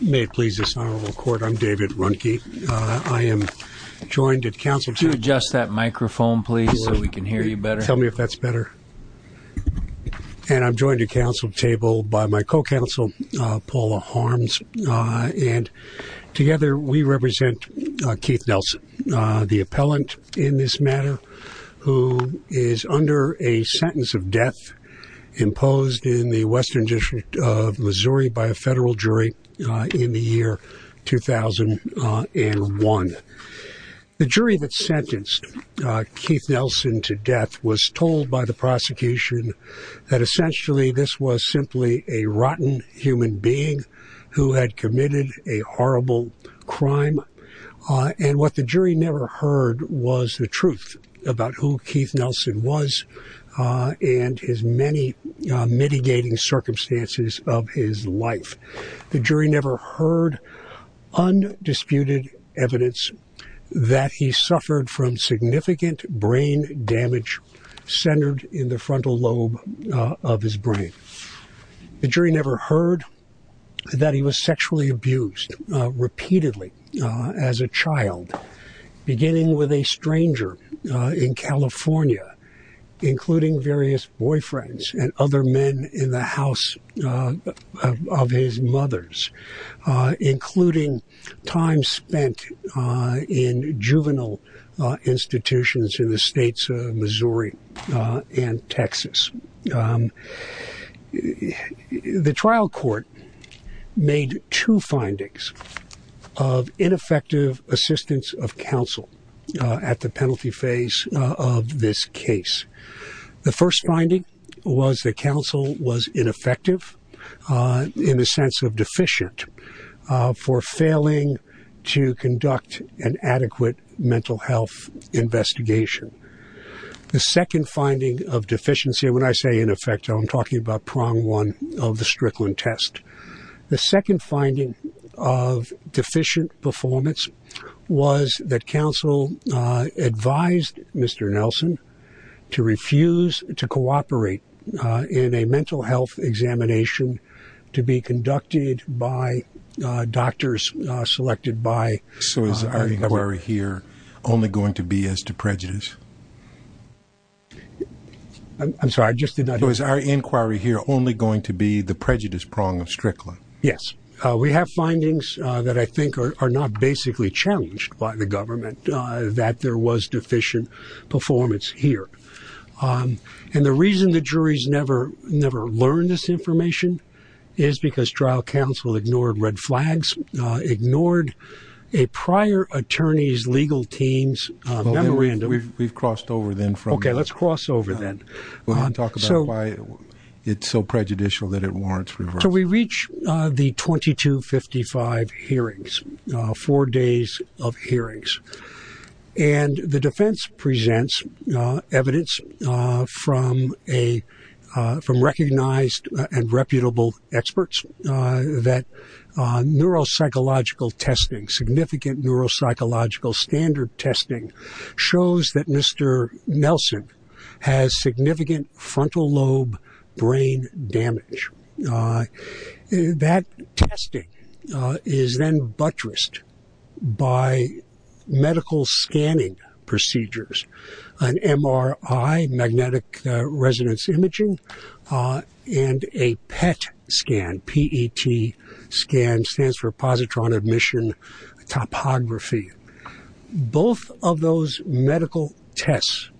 May it please this Honorable Court, I'm David Runke. I am joined at Council Table. Would you adjust that microphone please so we can hear you better? Tell me if that's better. And I'm joined at Council Table by my co-counsel, Paula Harms, and together we represent Keith Nelson, the appellant in this matter, who is under a sentence of death imposed in the in the year 2001. The jury that sentenced Keith Nelson to death was told by the prosecution that essentially this was simply a rotten human being who had committed a horrible crime. And what the jury never heard was the truth about who Keith Nelson was and his many experiences. The jury never heard undisputed evidence that he suffered from significant brain damage centered in the frontal lobe of his brain. The jury never heard that he was sexually abused repeatedly as a child, beginning with a stranger in California, including various boyfriends and other men in the house of his mother's, including time spent in juvenile institutions in the states of Missouri and Texas. The trial court made two findings of ineffective assistance of counsel at the penalty phase of this case. The first finding was that counsel was ineffective in the sense of deficient for failing to conduct an adequate mental health investigation. The second finding of deficiency, when I say ineffective, I'm talking about prong one of the Strickland test. The second finding of deficient performance was that counsel advised Mr. Nelson to refuse to cooperate in a mental health examination to be conducted by doctors selected by. So is our inquiry here only going to be as to prejudice? I'm sorry, I just did not know. Is our inquiry here only going to be the prejudice prong of Strickland? Yes, we have findings that I think are not basically challenged by the government that there was deficient performance here. And the reason the jury's never, never learned this information is because trial counsel ignored red flags, ignored a prior attorney's legal team's memorandum. We've crossed over then from. Let's cross over then. It's so prejudicial that it warrants. So we reach the 2255 hearings, four days of hearings, and the defense presents evidence from recognized and reputable experts that neuropsychological testing, significant neuropsychological standard testing shows that Mr. Nelson has significant frontal lobe brain damage. That testing is then buttressed by medical scanning procedures, an MRI, magnetic resonance imaging, and a PET scan, P-E-T scan stands for positron admission topography. Both of those medical tests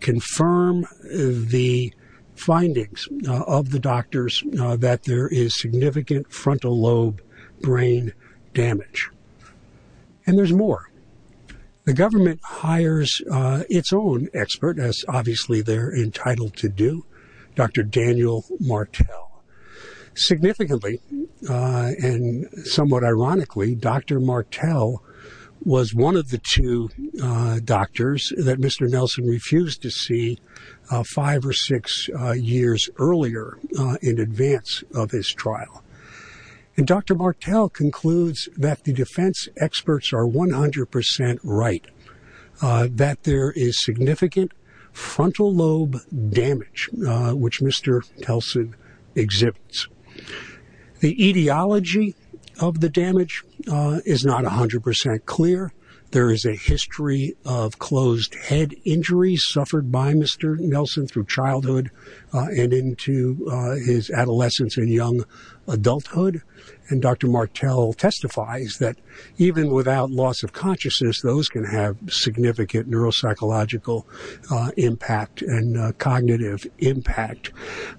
confirm the findings of the doctors that there is significant frontal lobe brain damage. And there's more. The government hires its own expert as obviously they're entitled to do Dr. Daniel Martel. Significantly and somewhat ironically, Dr. Martel was one of the two doctors that Mr. Nelson refused to see five or six years earlier in advance of his trial. And Dr. Martel concludes that the defense experts are 100% right, that there is significant frontal lobe damage, which Mr. Nelson exhibits. The etiology of the damage is not 100% clear. There is a history of closed head injuries suffered by Mr. Nelson through childhood and into his adolescence and young adulthood. And Dr. Martel testifies that even without loss of consciousness, those can have significant neuropsychological impact and cognitive impact.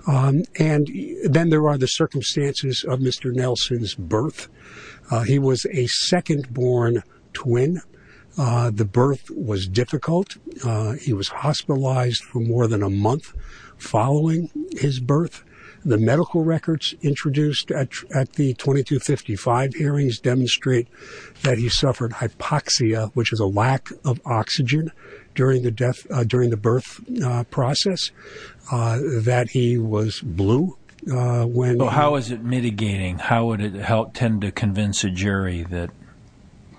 And then there are the circumstances of Mr. Nelson's birth. He was a second born twin. The birth was difficult. He was hospitalized for more than a month following his birth. The medical records introduced at the 2255 hearings demonstrate that he suffered hypoxia, which is a lack of oxygen during the birth process, that he was blue. Well, how is it mitigating? How would it help tend to convince a jury that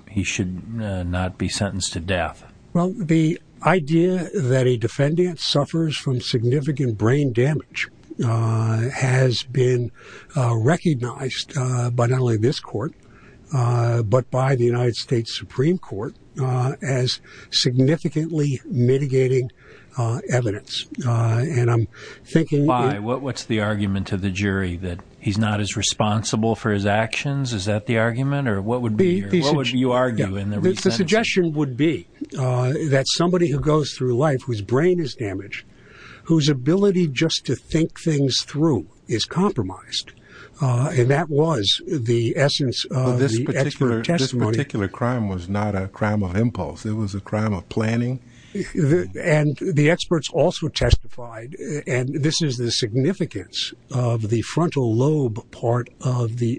he should not be sentenced to death? Well, the idea that a defendant suffers from significant brain damage has been recognized by not only this court, but by the United States Supreme Court as significantly mitigating evidence. And I'm thinking... Why? What's the argument of the jury that he's not as responsible for his actions? Is that the argument? Or what would be... What would you argue in the... The suggestion would be that somebody who goes through life, whose brain is damaged, whose ability just to think things through is compromised. And that was the essence of this particular testimony. This particular crime was not a crime of impulse. It was a crime of planning. And the experts also testified, and this is the significance of the frontal lobe part of the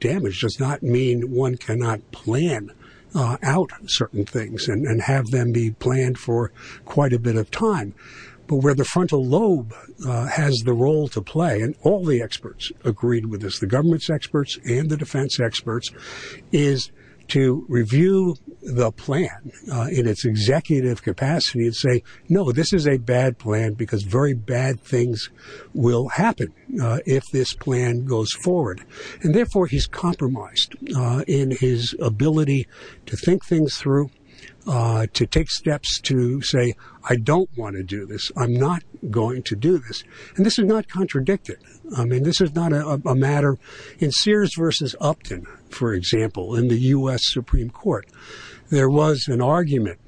damage, does not mean one cannot plan out certain things and have them be planned for quite a bit of time. But where the frontal lobe has the role to play, and all the experts agreed with this, the government's experts and the defense experts, is to review the plan in its executive capacity and say, no, this is a bad plan because very bad things will happen if this plan goes forward. And therefore, he's compromised in his ability to think things through, to take steps to say, I don't want to do this. I'm not going to do this. And this is not contradicted. I mean, this is not a matter... In Sears versus Upton, for example, in the U.S. Supreme Court, there was an argument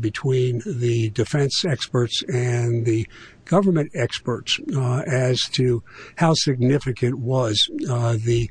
between the defense experts and the government experts as to how significant was the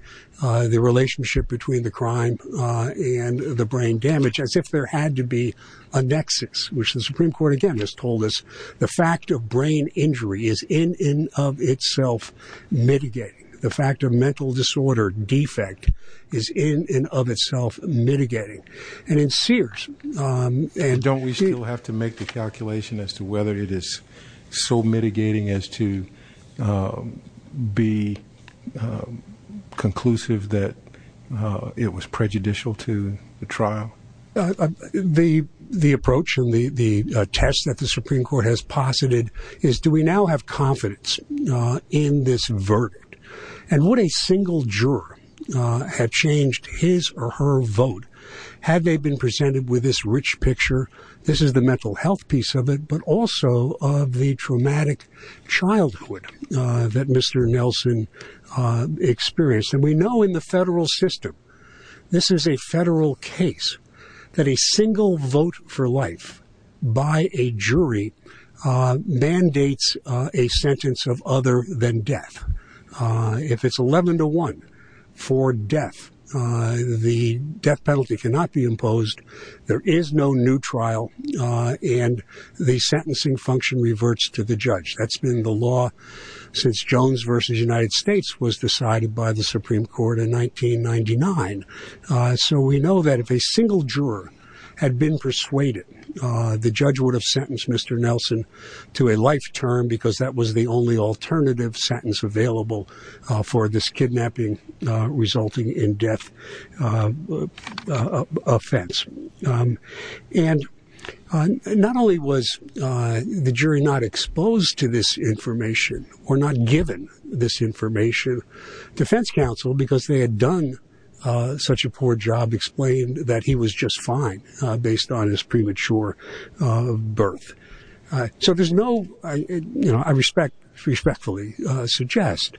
relationship between the crime and the brain damage, as if there had to be a nexus, which the Supreme Court, again, has told us the fact of brain injury is in and of itself mitigating. The fact of mental disorder defect is in and of itself mitigating. And in Sears... And don't we still have to make the calculation as to whether it is so mitigating as to be conclusive that it was prejudicial to the trial? The approach and the test that the Supreme Court has posited is do we now have confidence in this verdict? And what a single juror had changed his or her vote had they been presented with this rich picture? This is the mental health piece of it, but also of the traumatic childhood that Mr. Nelson experienced. And we know in the federal system, this is a federal case that a single vote for life by a jury mandates a sentence of other than death. If it's 11 to 1 for death, the death penalty cannot be imposed. There is no new trial. And the sentencing function reverts to the judge. That's been the law since Jones versus United States was decided by the Supreme Court in 1999. So we know that if a single juror had been persuaded, the judge would have sentenced Mr. Nelson to a life term because that was the only alternative sentence available for this kidnapping resulting in death offense. And not only was the jury not exposed to this information or not given this information, defense counsel, because they had done such a poor job, explained that he was just fine based on his premature birth. So there's no, I respect, respectfully suggest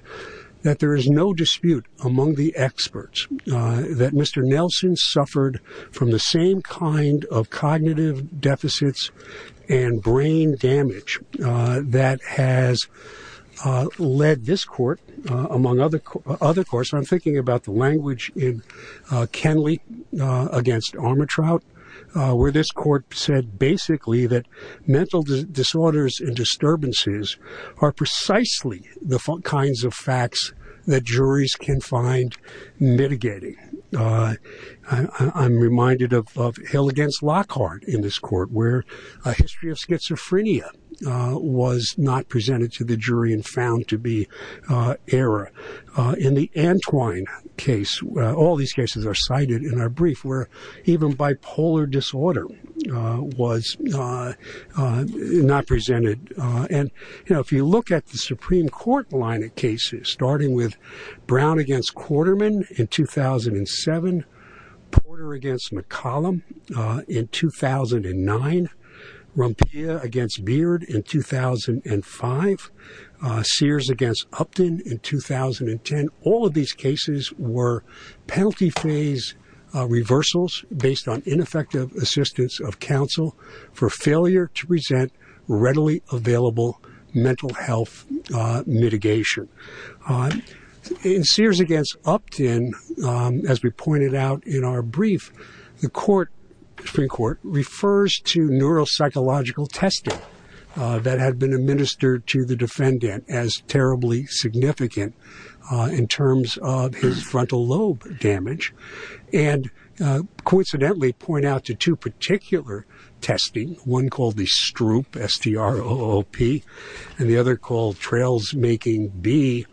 that there is no dispute among the experts that Mr. Nelson suffered from the same kind of cognitive deficits and brain damage that has led this court among other other courts. I'm thinking about the language in Kenley against Armatrout, where this court said basically that mental disorders and disturbances are precisely the kinds of facts that juries can find mitigating. I'm reminded of Hill against Lockhart in this court where a history of schizophrenia was not presented to the jury and found to be error. In the Antwine case, all these cases are cited in our brief where even bipolar disorder was not presented. And if you look at the Supreme Court line of cases, starting with Brown against Quarterman in 2007, Porter against McCollum in 2009, Rumpia against Beard in 2005, Sears against Upton in 2010, all of these cases were penalty phase reversals based on ineffective assistance of counsel for failure to present readily available mental health mitigation. In Sears against Upton, as we pointed out in our brief, the court, Supreme Court, refers to neuropsychological testing that had been administered to the defendant as terribly significant in terms of his frontal lobe damage and coincidentally point out to two particular testing, one called the Stroop, S-T-R-O-O-P, and the other called Trails Making B,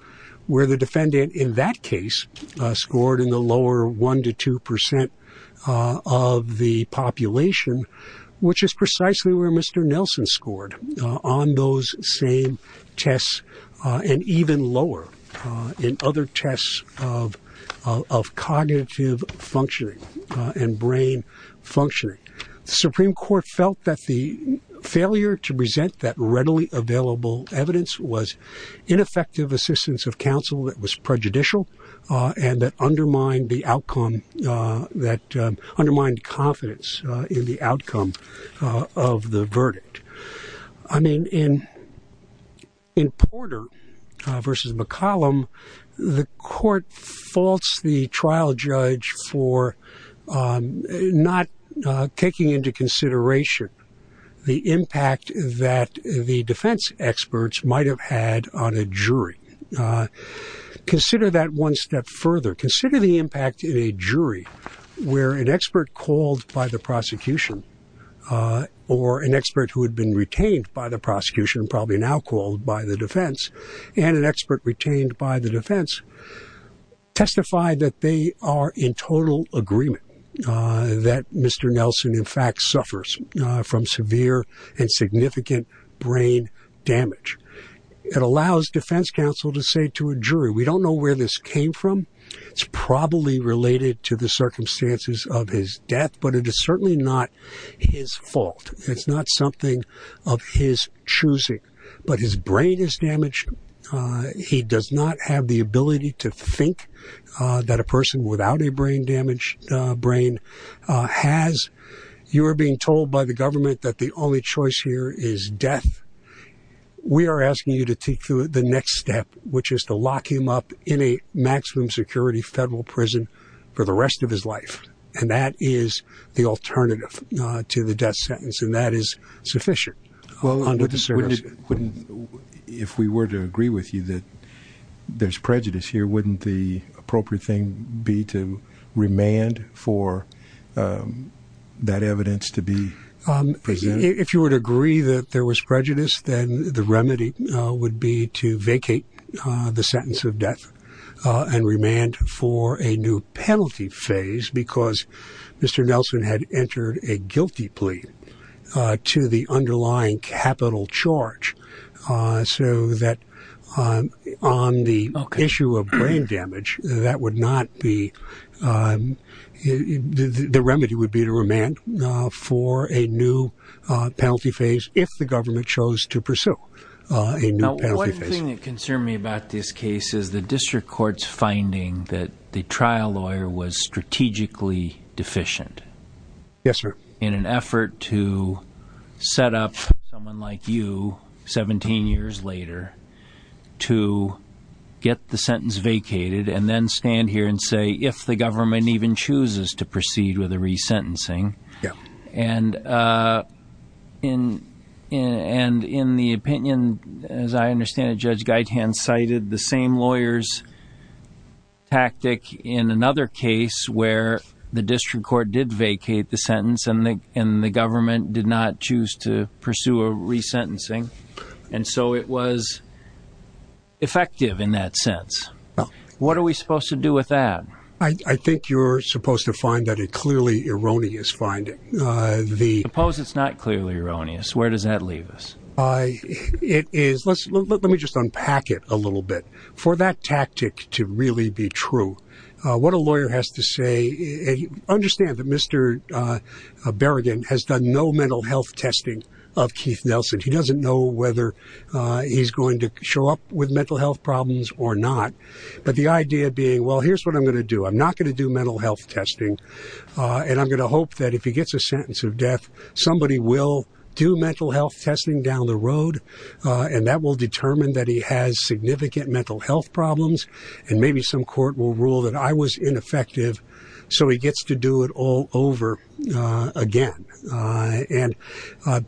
where the defendant in that case scored in the lower 1% to 2% of the population, which is precisely where Mr. Nelson scored on those same tests and even lower in other tests of cognitive functioning and brain functioning. The Supreme Court felt that the failure to present that readily available evidence was ineffective assistance of counsel that was prejudicial and that undermined confidence in the outcome of the verdict. I mean, in Porter versus McCollum, the court faults the trial judge for not taking into consideration the impact that the defense experts might have had on a jury. Consider that one step further. Consider the impact in a jury where an expert called by the prosecution or an expert who had been retained by the prosecution, probably now called by the defense and an expert retained by the defense, testified that they are in total agreement that Mr. Nelson in fact suffers from severe and significant brain damage. It allows defense counsel to say to a jury, we don't know where this came from. It's probably related to the circumstances of his death, but it is certainly not his fault. It's not something of his choosing, but his brain is damaged. He does not have the ability to think that a person without a brain damage brain has. You are being told by the government that the only choice here is death. We are asking you to take through the next step, which is to lock him up in a maximum security federal prison for the rest of his life. And that is the alternative to the death sentence. And that is sufficient. Well, if we were to agree with you that there's prejudice here, wouldn't the remand for that evidence to be presented? If you would agree that there was prejudice, then the remedy would be to vacate the sentence of death and remand for a new penalty phase because Mr. Nelson had entered a guilty plea to the underlying capital charge so that on the issue of brain damage, that would not be the remedy would be to remand for a new penalty phase if the government chose to pursue a new penalty. One thing that concerned me about this case is the district court's finding that the trial lawyer was strategically deficient. Yes, sir. In an effort to set up someone like you, 17 years later, to get the sentence vacated and then stand here and say if the government even chooses to proceed with the resentencing. Yeah. And in the opinion, as I understand it, Judge Geithan cited the same lawyer's case where the district court did vacate the sentence and the government did not choose to pursue a resentencing. And so it was effective in that sense. What are we supposed to do with that? I think you're supposed to find that a clearly erroneous finding. Suppose it's not clearly erroneous. Where does that leave us? It is. Let me just unpack it a little bit for that tactic to really be true. What a lawyer has to say, understand that Mr. Berrigan has done no mental health testing of Keith Nelson. He doesn't know whether he's going to show up with mental health problems or not. But the idea being, well, here's what I'm going to do. I'm not going to do mental health testing. And I'm going to hope that if he gets a sentence of death, somebody will do mental health testing down the road. And that will determine that he has significant mental health problems. And maybe some court will rule that I was ineffective. So he gets to do it all over again. And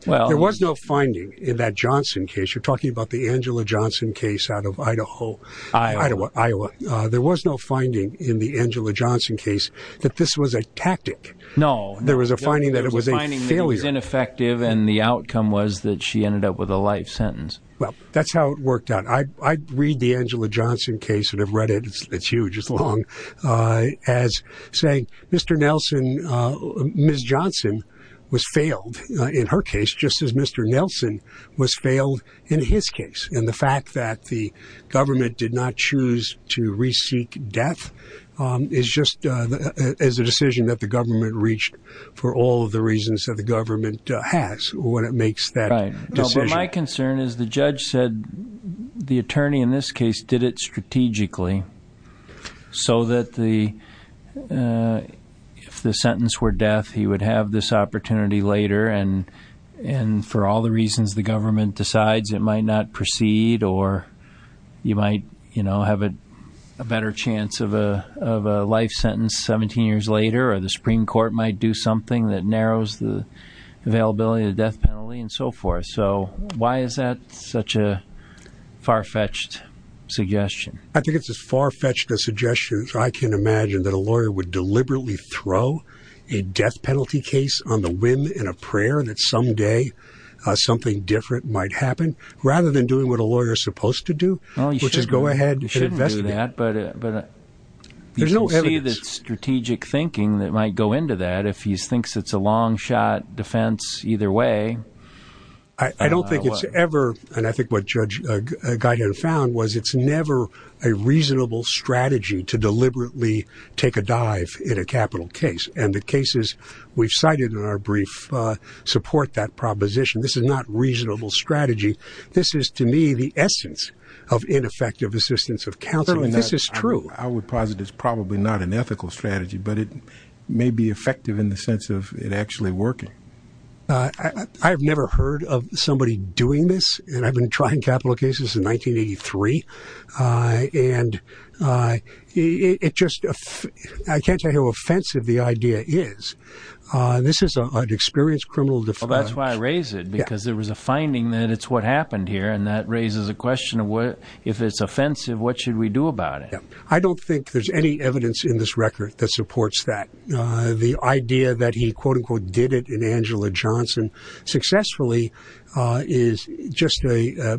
well, there was no finding in that Johnson case. You're talking about the Angela Johnson case out of Idaho, Iowa. There was no finding in the Angela Johnson case that this was a tactic. No, there was a finding that it was a failure. It was ineffective. And the outcome was that she ended up with a life sentence. Well, that's how it worked out. I read the Reddit. It's huge. It's long as saying Mr. Nelson, Ms. Johnson was failed in her case, just as Mr. Nelson was failed in his case. And the fact that the government did not choose to re-seek death is just as a decision that the government reached for all of the reasons that the government has when it makes that decision. My concern is the judge said the attorney in this did it strategically so that if the sentence were death, he would have this opportunity later. And for all the reasons the government decides, it might not proceed or you might have a better chance of a life sentence 17 years later, or the Supreme Court might do something that narrows the far-fetched suggestion. I think it's as far-fetched a suggestion as I can imagine that a lawyer would deliberately throw a death penalty case on the whim in a prayer that someday something different might happen rather than doing what a lawyer is supposed to do, which is go ahead and investigate. You shouldn't do that, but you can see the strategic thinking that might go into that if he thinks it's a long shot defense either way. I don't think it's ever, and I think what Judge Geithner found was it's never a reasonable strategy to deliberately take a dive in a capital case. And the cases we've cited in our brief support that proposition. This is not reasonable strategy. This is to me the essence of ineffective assistance of counseling. This is true. I would posit it's probably not an ethical strategy, but it may be effective in the sense of it actually working. I've never heard of somebody doing this, and I've been trying capital cases in 1983, and it just, I can't tell you how offensive the idea is. This is an experienced criminal defense. That's why I raise it, because there was a finding that it's what happened here, and that raises a question of what if it's offensive, what should we do about it? I don't think there's any evidence in this record that supports that. The idea that he quote-unquote did it in Angela Johnson successfully is just a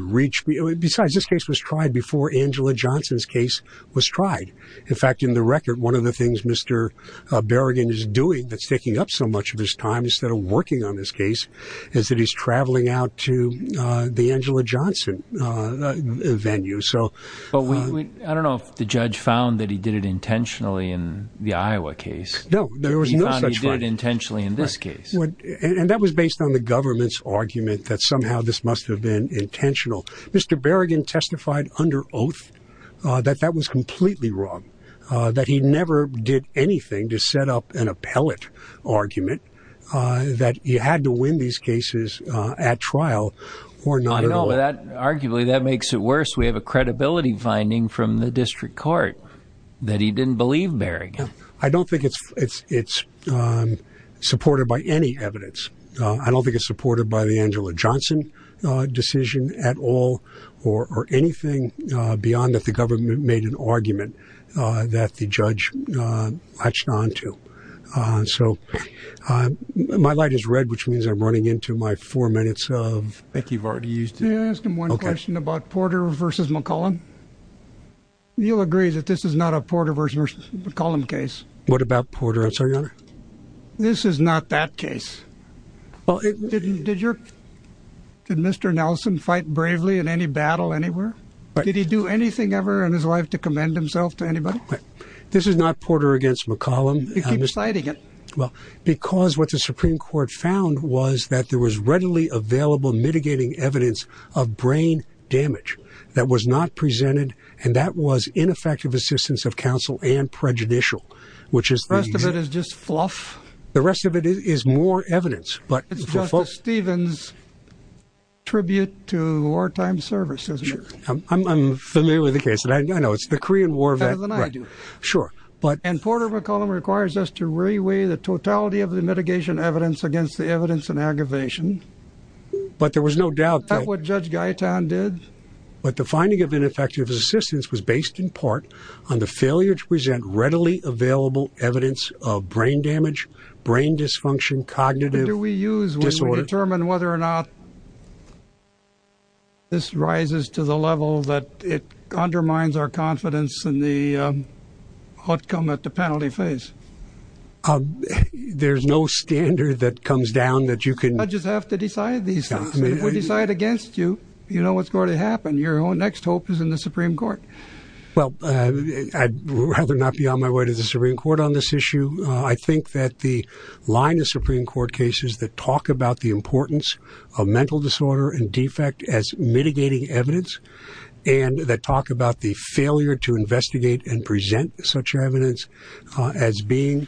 reach. Besides, this case was tried before Angela Johnson's case was tried. In fact, in the record, one of the things Mr. Berrigan is doing that's taking up so much of his time instead of working on this case is that he's traveling out to the Angela Johnson venue. I don't know if the judge found that he did it intentionally in the Iowa case. No, there was no such thing. He did it intentionally in this case. And that was based on the government's argument that somehow this must have been intentional. Mr. Berrigan testified under oath that that was completely wrong, that he never did anything to set up an appellate argument, that he had to win these cases at trial. Arguably, that makes it worse. We have a credibility finding from the district court that he didn't believe Berrigan. I don't think it's supported by any evidence. I don't think it's supported by the Angela Johnson decision at all or anything beyond that the government made an argument that the judge latched on to. So my light is red, which means I'm running into my four minutes of... I think you've already used it. Can I ask him one question about Porter versus McCollum? You'll agree that this is not a Porter versus McCollum case. What about Porter? This is not that case. Did Mr. Nelson fight bravely in any battle anywhere? Did he do anything ever in his life to commend himself to anybody? This is not Porter against McCollum. You keep citing it. Well, because what the Supreme Court found was that there was readily available mitigating evidence of brain damage that was not presented, and that was ineffective assistance of counsel and prejudicial, which is... The rest of it is just fluff. The rest of it is more evidence, but... It's Justice Stevens' tribute to wartime service, isn't it? I'm familiar with the case, and I know it's the Korean War event. Better than I do. Sure, but... And Porter versus McCollum requires us to reweigh the totality of the mitigation evidence against the evidence and aggravation. But there was no doubt that... Is that what Judge Gaetan did? But the finding of ineffective assistance was based in part on the failure to present readily available evidence of brain damage, brain dysfunction, cognitive... What do we use when we determine whether or not this rises to the level that it undermines our confidence in the outcome at the penalty phase? There's no standard that comes down that you can... I just have to decide these things. If we decide against you, you know what's going to happen. Your next hope is in the Supreme Court. Well, I'd rather not be on my way to the Supreme Court on this issue. I think that the line of Supreme Court cases that talk about the importance of mental disorder and defect as mitigating evidence, and that talk about the failure to investigate and present such evidence as being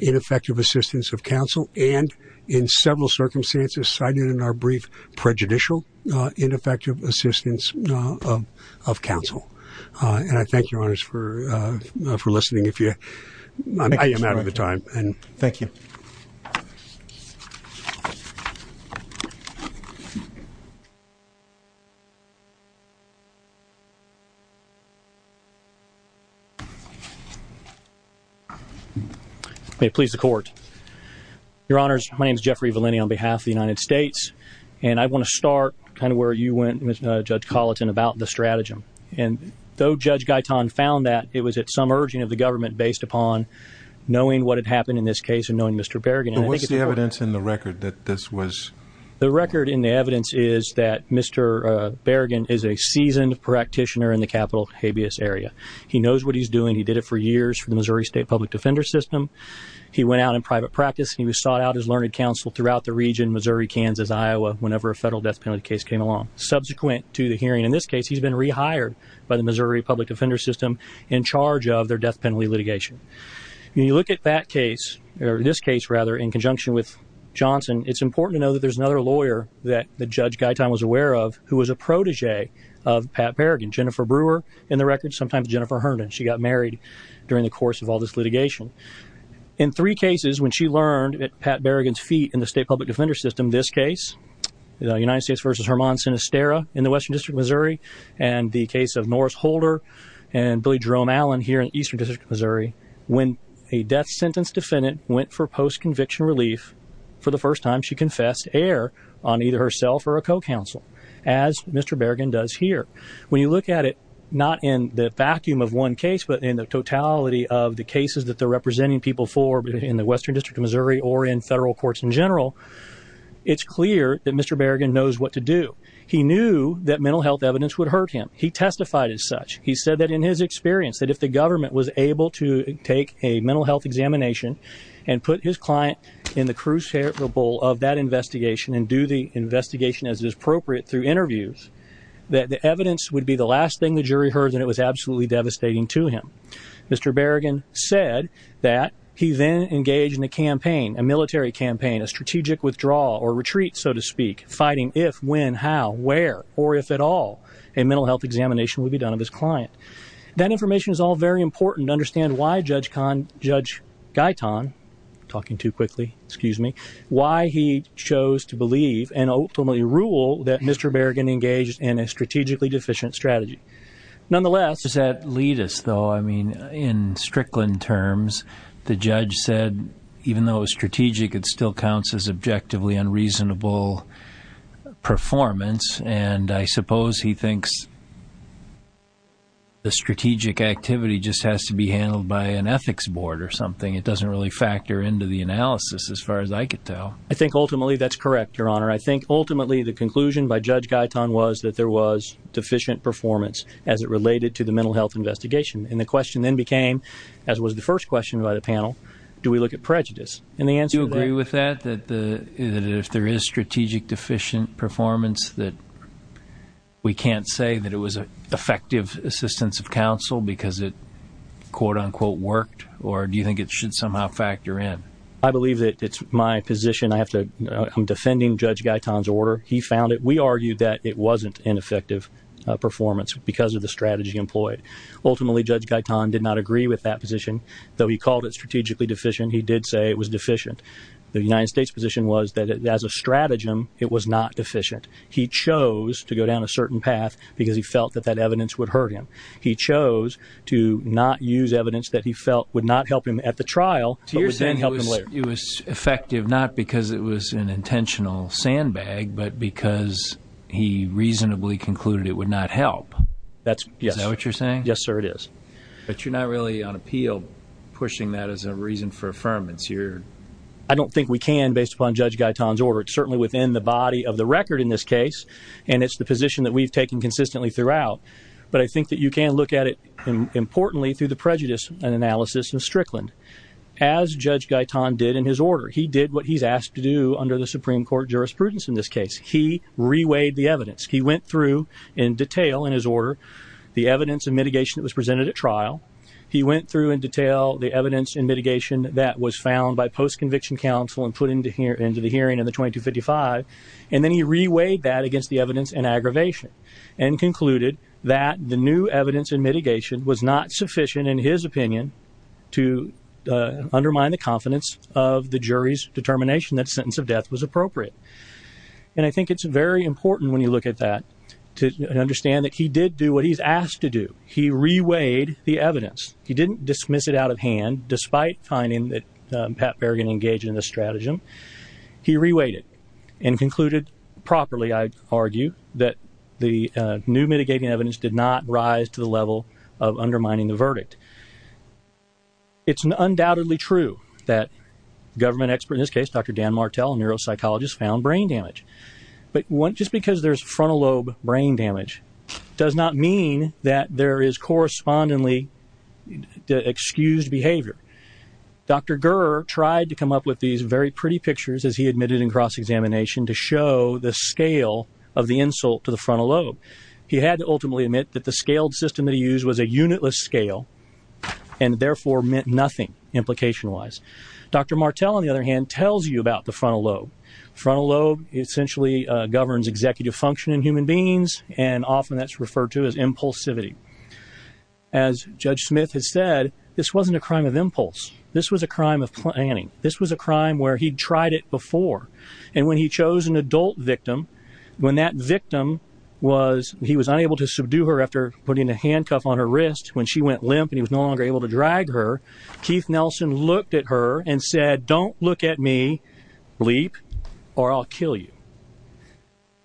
ineffective assistance of counsel, and in several circumstances cited in our brief prejudicial ineffective assistance of counsel. And I thank your honors for listening. I am out of the time. Thank you. May it please the court. Your honors, my name is Jeffrey Vellini on behalf of the United States, and I want to start kind of where you went, Judge Colleton, about the stratagem. And though Judge Gaitan found that, it was at some urging of the government based upon knowing what had happened in this case and knowing Mr. Berrigan. What's the evidence in the record that this was... The record in the evidence is that Mr. Berrigan is a seasoned practitioner in the capital habeas area. He knows what he's doing. He did it for years for the Missouri State Public Defender System. He went out in private practice. He was sought out as learned counsel throughout the region, Missouri, Kansas, Iowa, whenever a federal death penalty case came along. Subsequent to the hearing in this case, he's been rehired by the Missouri Public Defender System in charge of their death penalty litigation. When you look at that case, or this case rather, in conjunction with Johnson, it's important to know that there's another lawyer that the Judge Gaitan was aware of, who was a protege of Pat Berrigan, Jennifer Brewer in the record, sometimes Jennifer Herndon. She got married during the course of all this litigation. In three cases, when she learned at Pat Berrigan's feet in the State Public Defender System, this case, the United States versus Hermann Sinisterra in the Western District of Missouri, and the case of Norris Holder and Billy Jerome Allen here in Eastern District of Missouri, when a death sentence defendant went for post-conviction relief for the first time, she confessed error on either herself or a co-counsel, as Mr. Berrigan does here. When you look at it, not in the vacuum of one case, but in the totality of the cases that they're representing people for in the Western District of Missouri or in federal courts in general, it's clear that Mr. Berrigan knows what to do. He knew that mental health evidence would hurt him. He testified as such. He said that in his experience, that if the government was able to take a mental health examination and put his client in the crucible of that investigation and do the investigation as is appropriate through interviews, that the evidence would be the last thing the jury heard, and it was absolutely devastating to him. Mr. Berrigan said that he then engaged in a campaign, a military campaign, a strategic withdrawal or retreat, so to speak, fighting if, when, how, where, or if at all a mental health examination would be done of his client. That information is all very important to understand why Judge Gaitan, talking too quickly, excuse me, why he chose to believe and ultimately rule that Mr. Berrigan engaged in a strategically deficient strategy. Nonetheless, does that lead us, though, I mean, in Strickland terms, the judge said even though it was strategic, it still counts as objectively unreasonable performance, and I suppose he thinks the strategic activity just has to be handled by an ethics board or something. It doesn't really factor into the analysis as far as I could tell. I think ultimately that's correct, Your Honor. I think ultimately the conclusion by Judge Gaitan was that there was deficient performance as it and the question then became, as was the first question by the panel, do we look at prejudice? Do you agree with that, that if there is strategic deficient performance that we can't say that it was an effective assistance of counsel because it quote-unquote worked, or do you think it should somehow factor in? I believe that it's my position. I have to, I'm defending Judge Gaitan's order. He found it. We employed. Ultimately, Judge Gaitan did not agree with that position, though he called it strategically deficient. He did say it was deficient. The United States position was that as a stratagem, it was not deficient. He chose to go down a certain path because he felt that that evidence would hurt him. He chose to not use evidence that he felt would not help him at the trial, but would then help him later. So you're saying it was effective not because it was an Is that what you're saying? Yes, sir, it is. But you're not really on appeal pushing that as a reason for affirmance. I don't think we can based upon Judge Gaitan's order. It's certainly within the body of the record in this case, and it's the position that we've taken consistently throughout, but I think that you can look at it importantly through the prejudice analysis in Strickland, as Judge Gaitan did in his order. He did what he's asked to do under the Supreme Court jurisprudence in this case. He reweighed the evidence. He went through in detail in his order the evidence and mitigation that was presented at trial. He went through in detail the evidence and mitigation that was found by post-conviction counsel and put into the hearing in the 2255, and then he reweighed that against the evidence and aggravation and concluded that the new evidence and mitigation was not sufficient, in his opinion, to undermine the confidence of the jury's opinion. And I think it's very important when you look at that to understand that he did do what he's asked to do. He reweighed the evidence. He didn't dismiss it out of hand, despite finding that Pat Berrigan engaged in this stratagem. He reweighed it and concluded properly, I'd argue, that the new mitigating evidence did not rise to the level of undermining the verdict. It's undoubtedly true that government expert, in this case, Dr. Dan Martell, a neuropsychologist, found brain damage. But just because there's frontal lobe brain damage does not mean that there is correspondingly excused behavior. Dr. Gurr tried to come up with these very pretty pictures, as he admitted in cross-examination, to show the scale of the insult to the frontal lobe. He had to ultimately admit that the scaled system that he used was a unitless scale and therefore meant nothing, implication-wise. Dr. Martell, on the other hand, tells you about the frontal lobe. The frontal lobe essentially governs executive function in human beings, and often that's referred to as impulsivity. As Judge Smith has said, this wasn't a crime of impulse. This was a crime of planning. This was a crime where he'd tried it before. And when he was unable to subdue her after putting a handcuff on her wrist, when she went limp and he was no longer able to drag her, Keith Nelson looked at her and said, don't look at me, leap, or I'll kill you.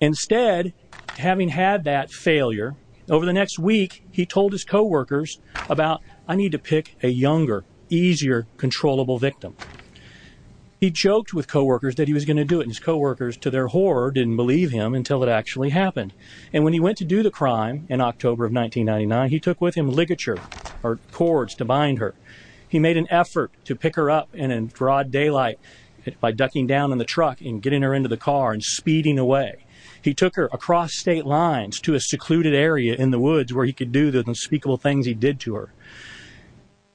Instead, having had that failure, over the next week, he told his co-workers about, I need to pick a younger, easier, controllable victim. He joked with co-workers that he was going to do their horror, didn't believe him until it actually happened. And when he went to do the crime in October of 1999, he took with him ligature, or cords, to bind her. He made an effort to pick her up in broad daylight by ducking down in the truck and getting her into the car and speeding away. He took her across state lines to a secluded area in the woods where he could do the unspeakable things he did to her.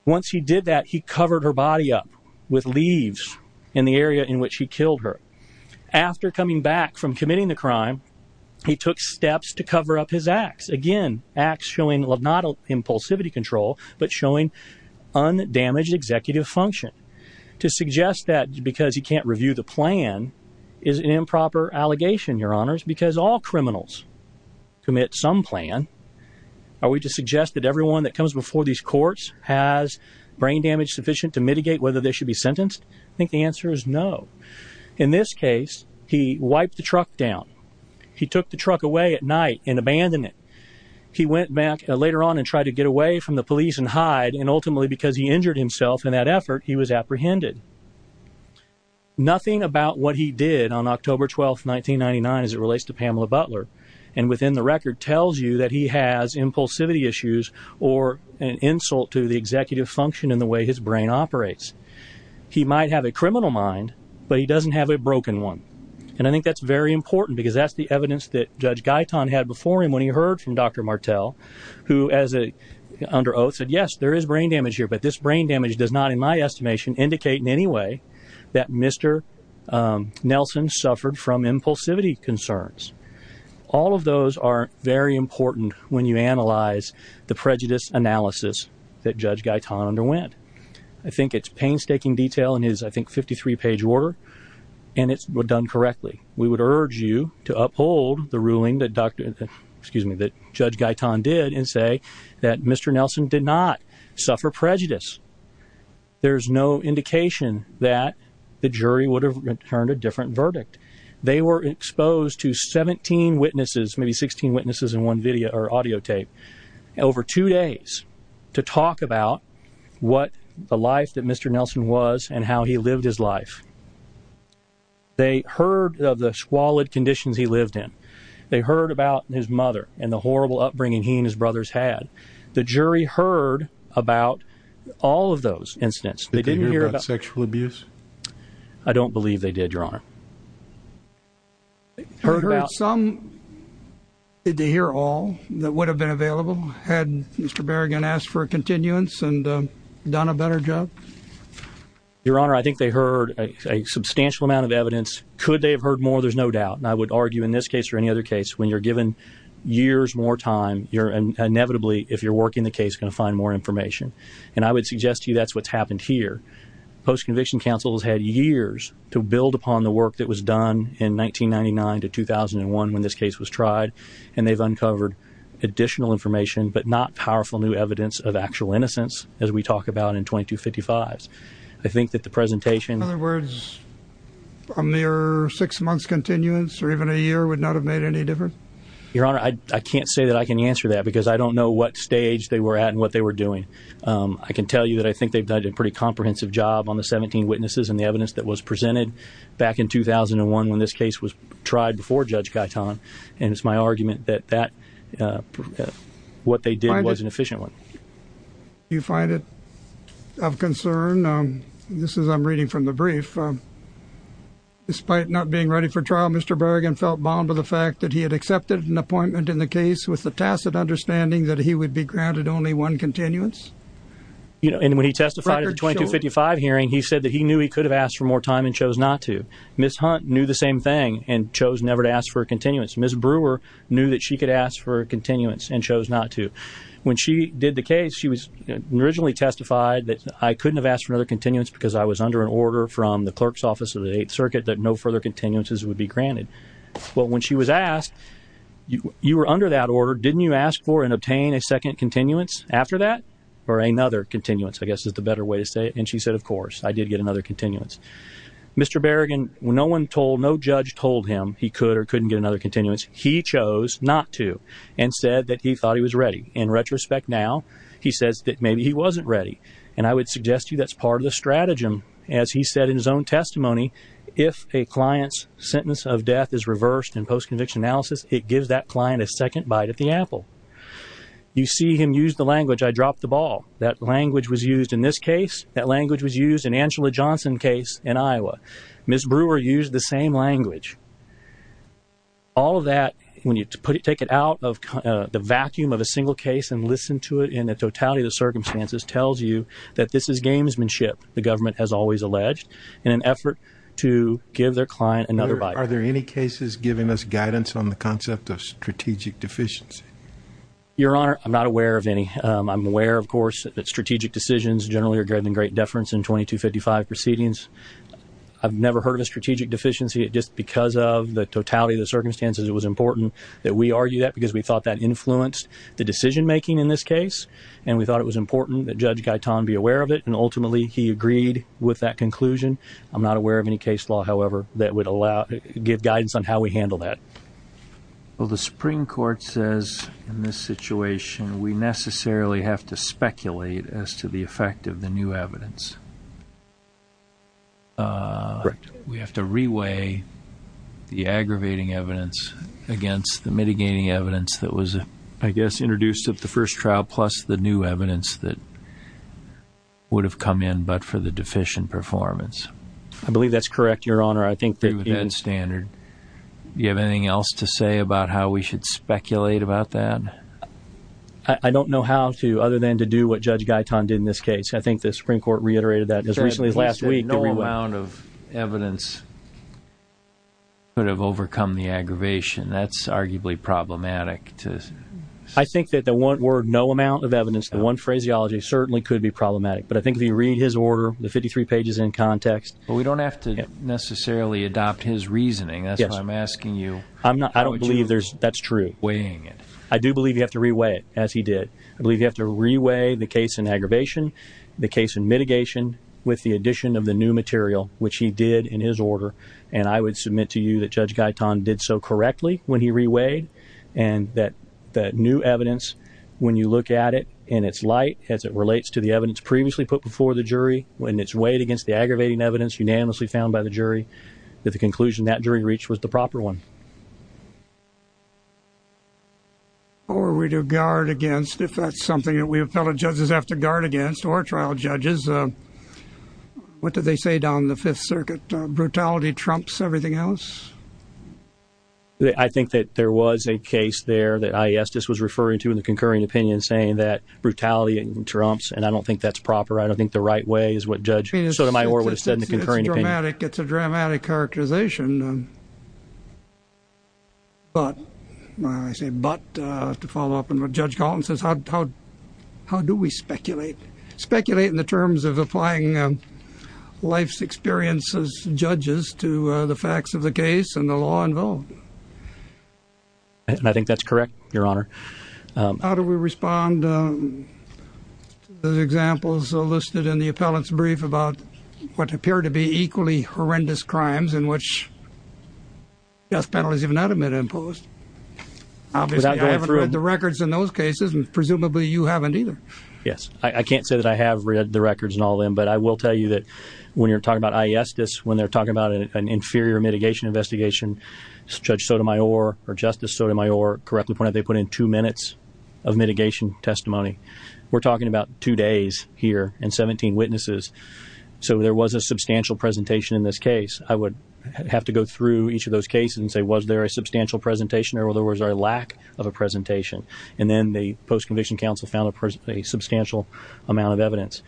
Once he did that, he covered her body up with leaves in the area in which he lived. After coming back from committing the crime, he took steps to cover up his acts. Again, acts showing not impulsivity control, but showing undamaged executive function. To suggest that because he can't review the plan is an improper allegation, your honors, because all criminals commit some plan. Are we to suggest that everyone that comes before these courts has brain damage to mitigate whether they should be sentenced? I think the answer is no. In this case, he wiped the truck down. He took the truck away at night and abandoned it. He went back later on and tried to get away from the police and hide, and ultimately, because he injured himself in that effort, he was apprehended. Nothing about what he did on October 12, 1999, as it relates to Pamela Butler, and within the record, tells you that he has impulsivity issues or an insult to the executive function in the way his brain operates. He might have a criminal mind, but he doesn't have a broken one, and I think that's very important because that's the evidence that Judge Guyton had before him when he heard from Dr. Martell, who under oath said, yes, there is brain damage here, but this brain damage does not, in my estimation, indicate in any way that Mr. Nelson suffered from impulsivity concerns. All of those are very important when you analyze the prejudice analysis that Judge Guyton underwent. I think it's painstaking detail in his, I think, 53-page order, and it was done correctly. We would urge you to uphold the ruling that Judge Guyton did and say that Mr. Nelson did not suffer prejudice. There's no indication that the jury would have returned a different verdict. They were exposed to 17 witnesses, maybe 16 in one video or audio tape, over two days to talk about what the life that Mr. Nelson was and how he lived his life. They heard of the squalid conditions he lived in. They heard about his mother and the horrible upbringing he and his brothers had. The jury heard about all of those incidents. They didn't hear about sexual abuse. I don't believe they did, Your Honor. They heard some, did they hear all that would have been available had Mr. Berrigan asked for a continuance and done a better job? Your Honor, I think they heard a substantial amount of evidence. Could they have heard more? There's no doubt, and I would argue in this case or any other case, when you're given years more time, you're inevitably, if you're working the case, going to find more information, and I would suggest to you that's what's happened here. Post-conviction counsel has had years to build upon the work that was done in 1999 to 2001 when this case was tried, and they've uncovered additional information, but not powerful new evidence of actual innocence, as we talk about in 2255s. I think that the presentation... In other words, a mere six months continuance or even a year would not have made any difference? Your Honor, I can't say that I can answer that because I don't know what stage they were at and what they were doing. I can tell you that I think they've done a pretty comprehensive job on the 17 witnesses and the evidence that was presented back in 2001 when this case was tried before Judge Gaetan, and it's my argument that what they did was an efficient one. Do you find it of concern, this is I'm reading from the brief, despite not being ready for trial, Mr. Berrigan felt bound by the fact that he had accepted an appointment in the case with the tacit understanding that he would be granted only one continuance? And when he testified at the 2255 hearing, he said that he knew he could have asked for more time and chose not to. Ms. Hunt knew the same thing and chose never to ask for a continuance. Ms. Brewer knew that she could ask for a continuance and chose not to. When she did the case, she was originally testified that I couldn't have asked for another continuance because I was under an order from the clerk's office of the Eighth Circuit that no further continuances would be granted. Well, when she was asked, you were under that order, didn't you ask for and obtain a second continuance after that? Or another continuance, I guess is the better way to say it. And she said, of course, I did get another continuance. Mr. Berrigan, no one told, no judge told him he could or couldn't get another continuance. He chose not to and said that he thought he was ready. In retrospect now, he says that maybe he wasn't ready. And I would suggest to you that's part of the stratagem. As he said in his own testimony, if a client's sentence of death is reversed in post-conviction analysis, it gives that client a second bite at the apple. You see him use the language, I dropped the ball. That language was used in this case. That language was used in Angela Johnson's case in Iowa. Ms. Brewer used the same language. All of that, when you take it out of the vacuum of a single case and listen to it in the totality of the circumstances, tells you that this is gamesmanship, the government has always alleged, in an effort to give their client another bite. Are there any cases giving us guidance on the concept of strategic deficiency? Your Honor, I'm not aware of any. I'm aware, of course, that strategic decisions generally are given great deference in 2255 proceedings. I've never heard of a strategic deficiency. Just because of the totality of the circumstances, it was important that we argue that because we thought that influenced the decision making in this case and we thought it was important that Judge Guyton be aware of it and ultimately he agreed with that conclusion. I'm not aware of any case law, however, that would allow, give guidance on how we handle that. Well, the Supreme Court says in this situation we necessarily have to speculate as to the effect of the new evidence. Correct. We have to re-weigh the aggravating evidence against the mitigating evidence that was, I guess, introduced at the first trial, plus the new evidence that would have come in but for the deficient performance. I believe that's correct, Your Honor. I think that... Do you have anything else to say about how we should speculate about that? I don't know how to, other than to do what Judge Guyton did in this case. I think the Supreme Court reiterated that as recently as last week. No amount of evidence could have overcome the aggravation. That's arguably problematic. I think that the one word, no amount of evidence, the one phraseology certainly could be problematic but I think read his order, the 53 pages in context... Well, we don't have to necessarily adopt his reasoning, that's why I'm asking you... I don't believe that's true. Weighing it. I do believe you have to re-weigh it, as he did. I believe you have to re-weigh the case in aggravation, the case in mitigation, with the addition of the new material, which he did in his order, and I would submit to you that Judge Guyton did so correctly when he re-weighed and that new evidence, when you look at it in its light, as it relates to the evidence previously put before the jury, when it's weighed against the aggravating evidence unanimously found by the jury, that the conclusion that jury reached was the proper one. Or we do guard against, if that's something that we appellate judges have to guard against, or trial judges, what do they say down in the Fifth Circuit? Brutality trumps everything else? I think that there was a case there that I.E. Estes was referring to in the brutality and trumps, and I don't think that's proper. I don't think the right way is what Judge Sotomayor would have said in the concurring opinion. It's dramatic. It's a dramatic characterization. But, I say but, to follow up on what Judge Guyton says, how do we speculate? Speculate in the terms of applying life's experiences, judges, to the facts of the case and the law involved? I think that's correct, Your Honor. How do we respond to the examples listed in the appellant's brief about what appear to be equally horrendous crimes in which death penalties have not been imposed? I haven't read the records in those cases, and presumably you haven't either. Yes, I can't say that I have read the records and all them, but I will tell you that when you're talking about I.E. Estes, when they're talking about an inferior mitigation investigation, Judge Sotomayor, or Justice Sotomayor correctly pointed out, they put in two minutes of mitigation testimony. We're talking about two days here and 17 witnesses, so there was a substantial presentation in this case. I would have to go through each of those cases and say, was there a substantial presentation or was there a lack of a presentation? And then the post-conviction counsel found a substantial amount of evidence.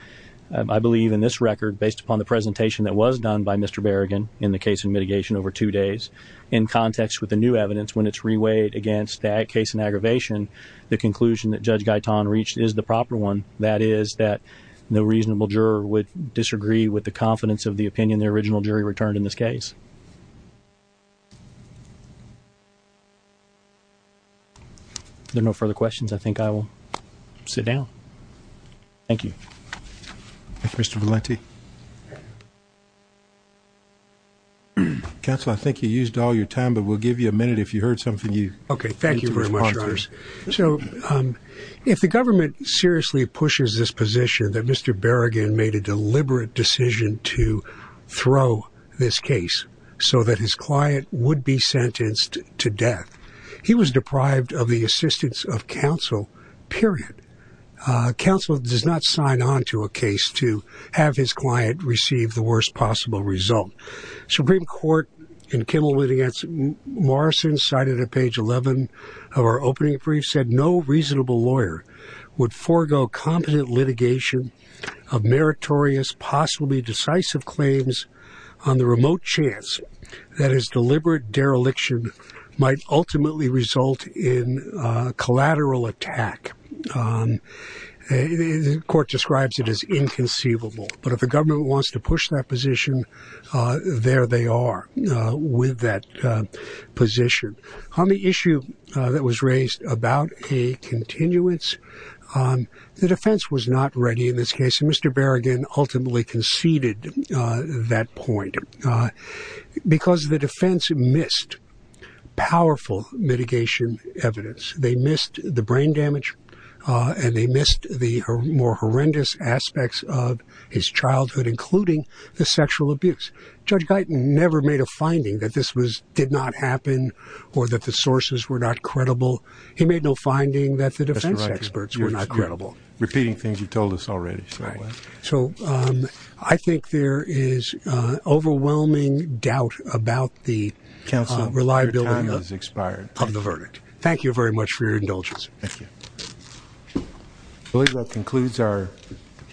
I believe in this record, based upon the presentation that was done by Mr. Berrigan in the case of mitigation over two days, in context with the new evidence, when it's reweighed against that case in aggravation, the conclusion that Judge Gaetan reached is the proper one. That is that no reasonable juror would disagree with the confidence of the opinion the original jury returned in this case. There are no further questions. I think I will sit down. Thank you. Mr. Valente. Counsel, I think you used all your time, but we'll give you a minute if you heard something you... Okay, thank you very much. So, if the government seriously pushes this position that Mr. Berrigan made a deliberate decision to throw this case so that his client would be sentenced to death, he was deprived of the assistance of counsel, period. Counsel does not sign on to a case to have his client receive the worst possible result. Supreme Court, in Kimmel v. Morrison, cited at page 11 of our opening brief, said no reasonable lawyer would forego competent litigation of meritorious, possibly decisive claims on the remote chance that his deliberate dereliction might ultimately result in collateral attack. The court describes it as inconceivable, but if the government wants to push that position, there they are with that position. On the issue that was raised about a continuance, the defense was not ready in this case. Mr. Valente, the defense missed powerful mitigation evidence. They missed the brain damage and they missed the more horrendous aspects of his childhood, including the sexual abuse. Judge Guyton never made a finding that this did not happen or that the sources were not credible. He made no finding that the defense experts were not credible. Repeating things you told us already. So I think there is overwhelming doubt about the reliability of the verdict. Thank you very much for your indulgence. Thank you. I believe that concludes our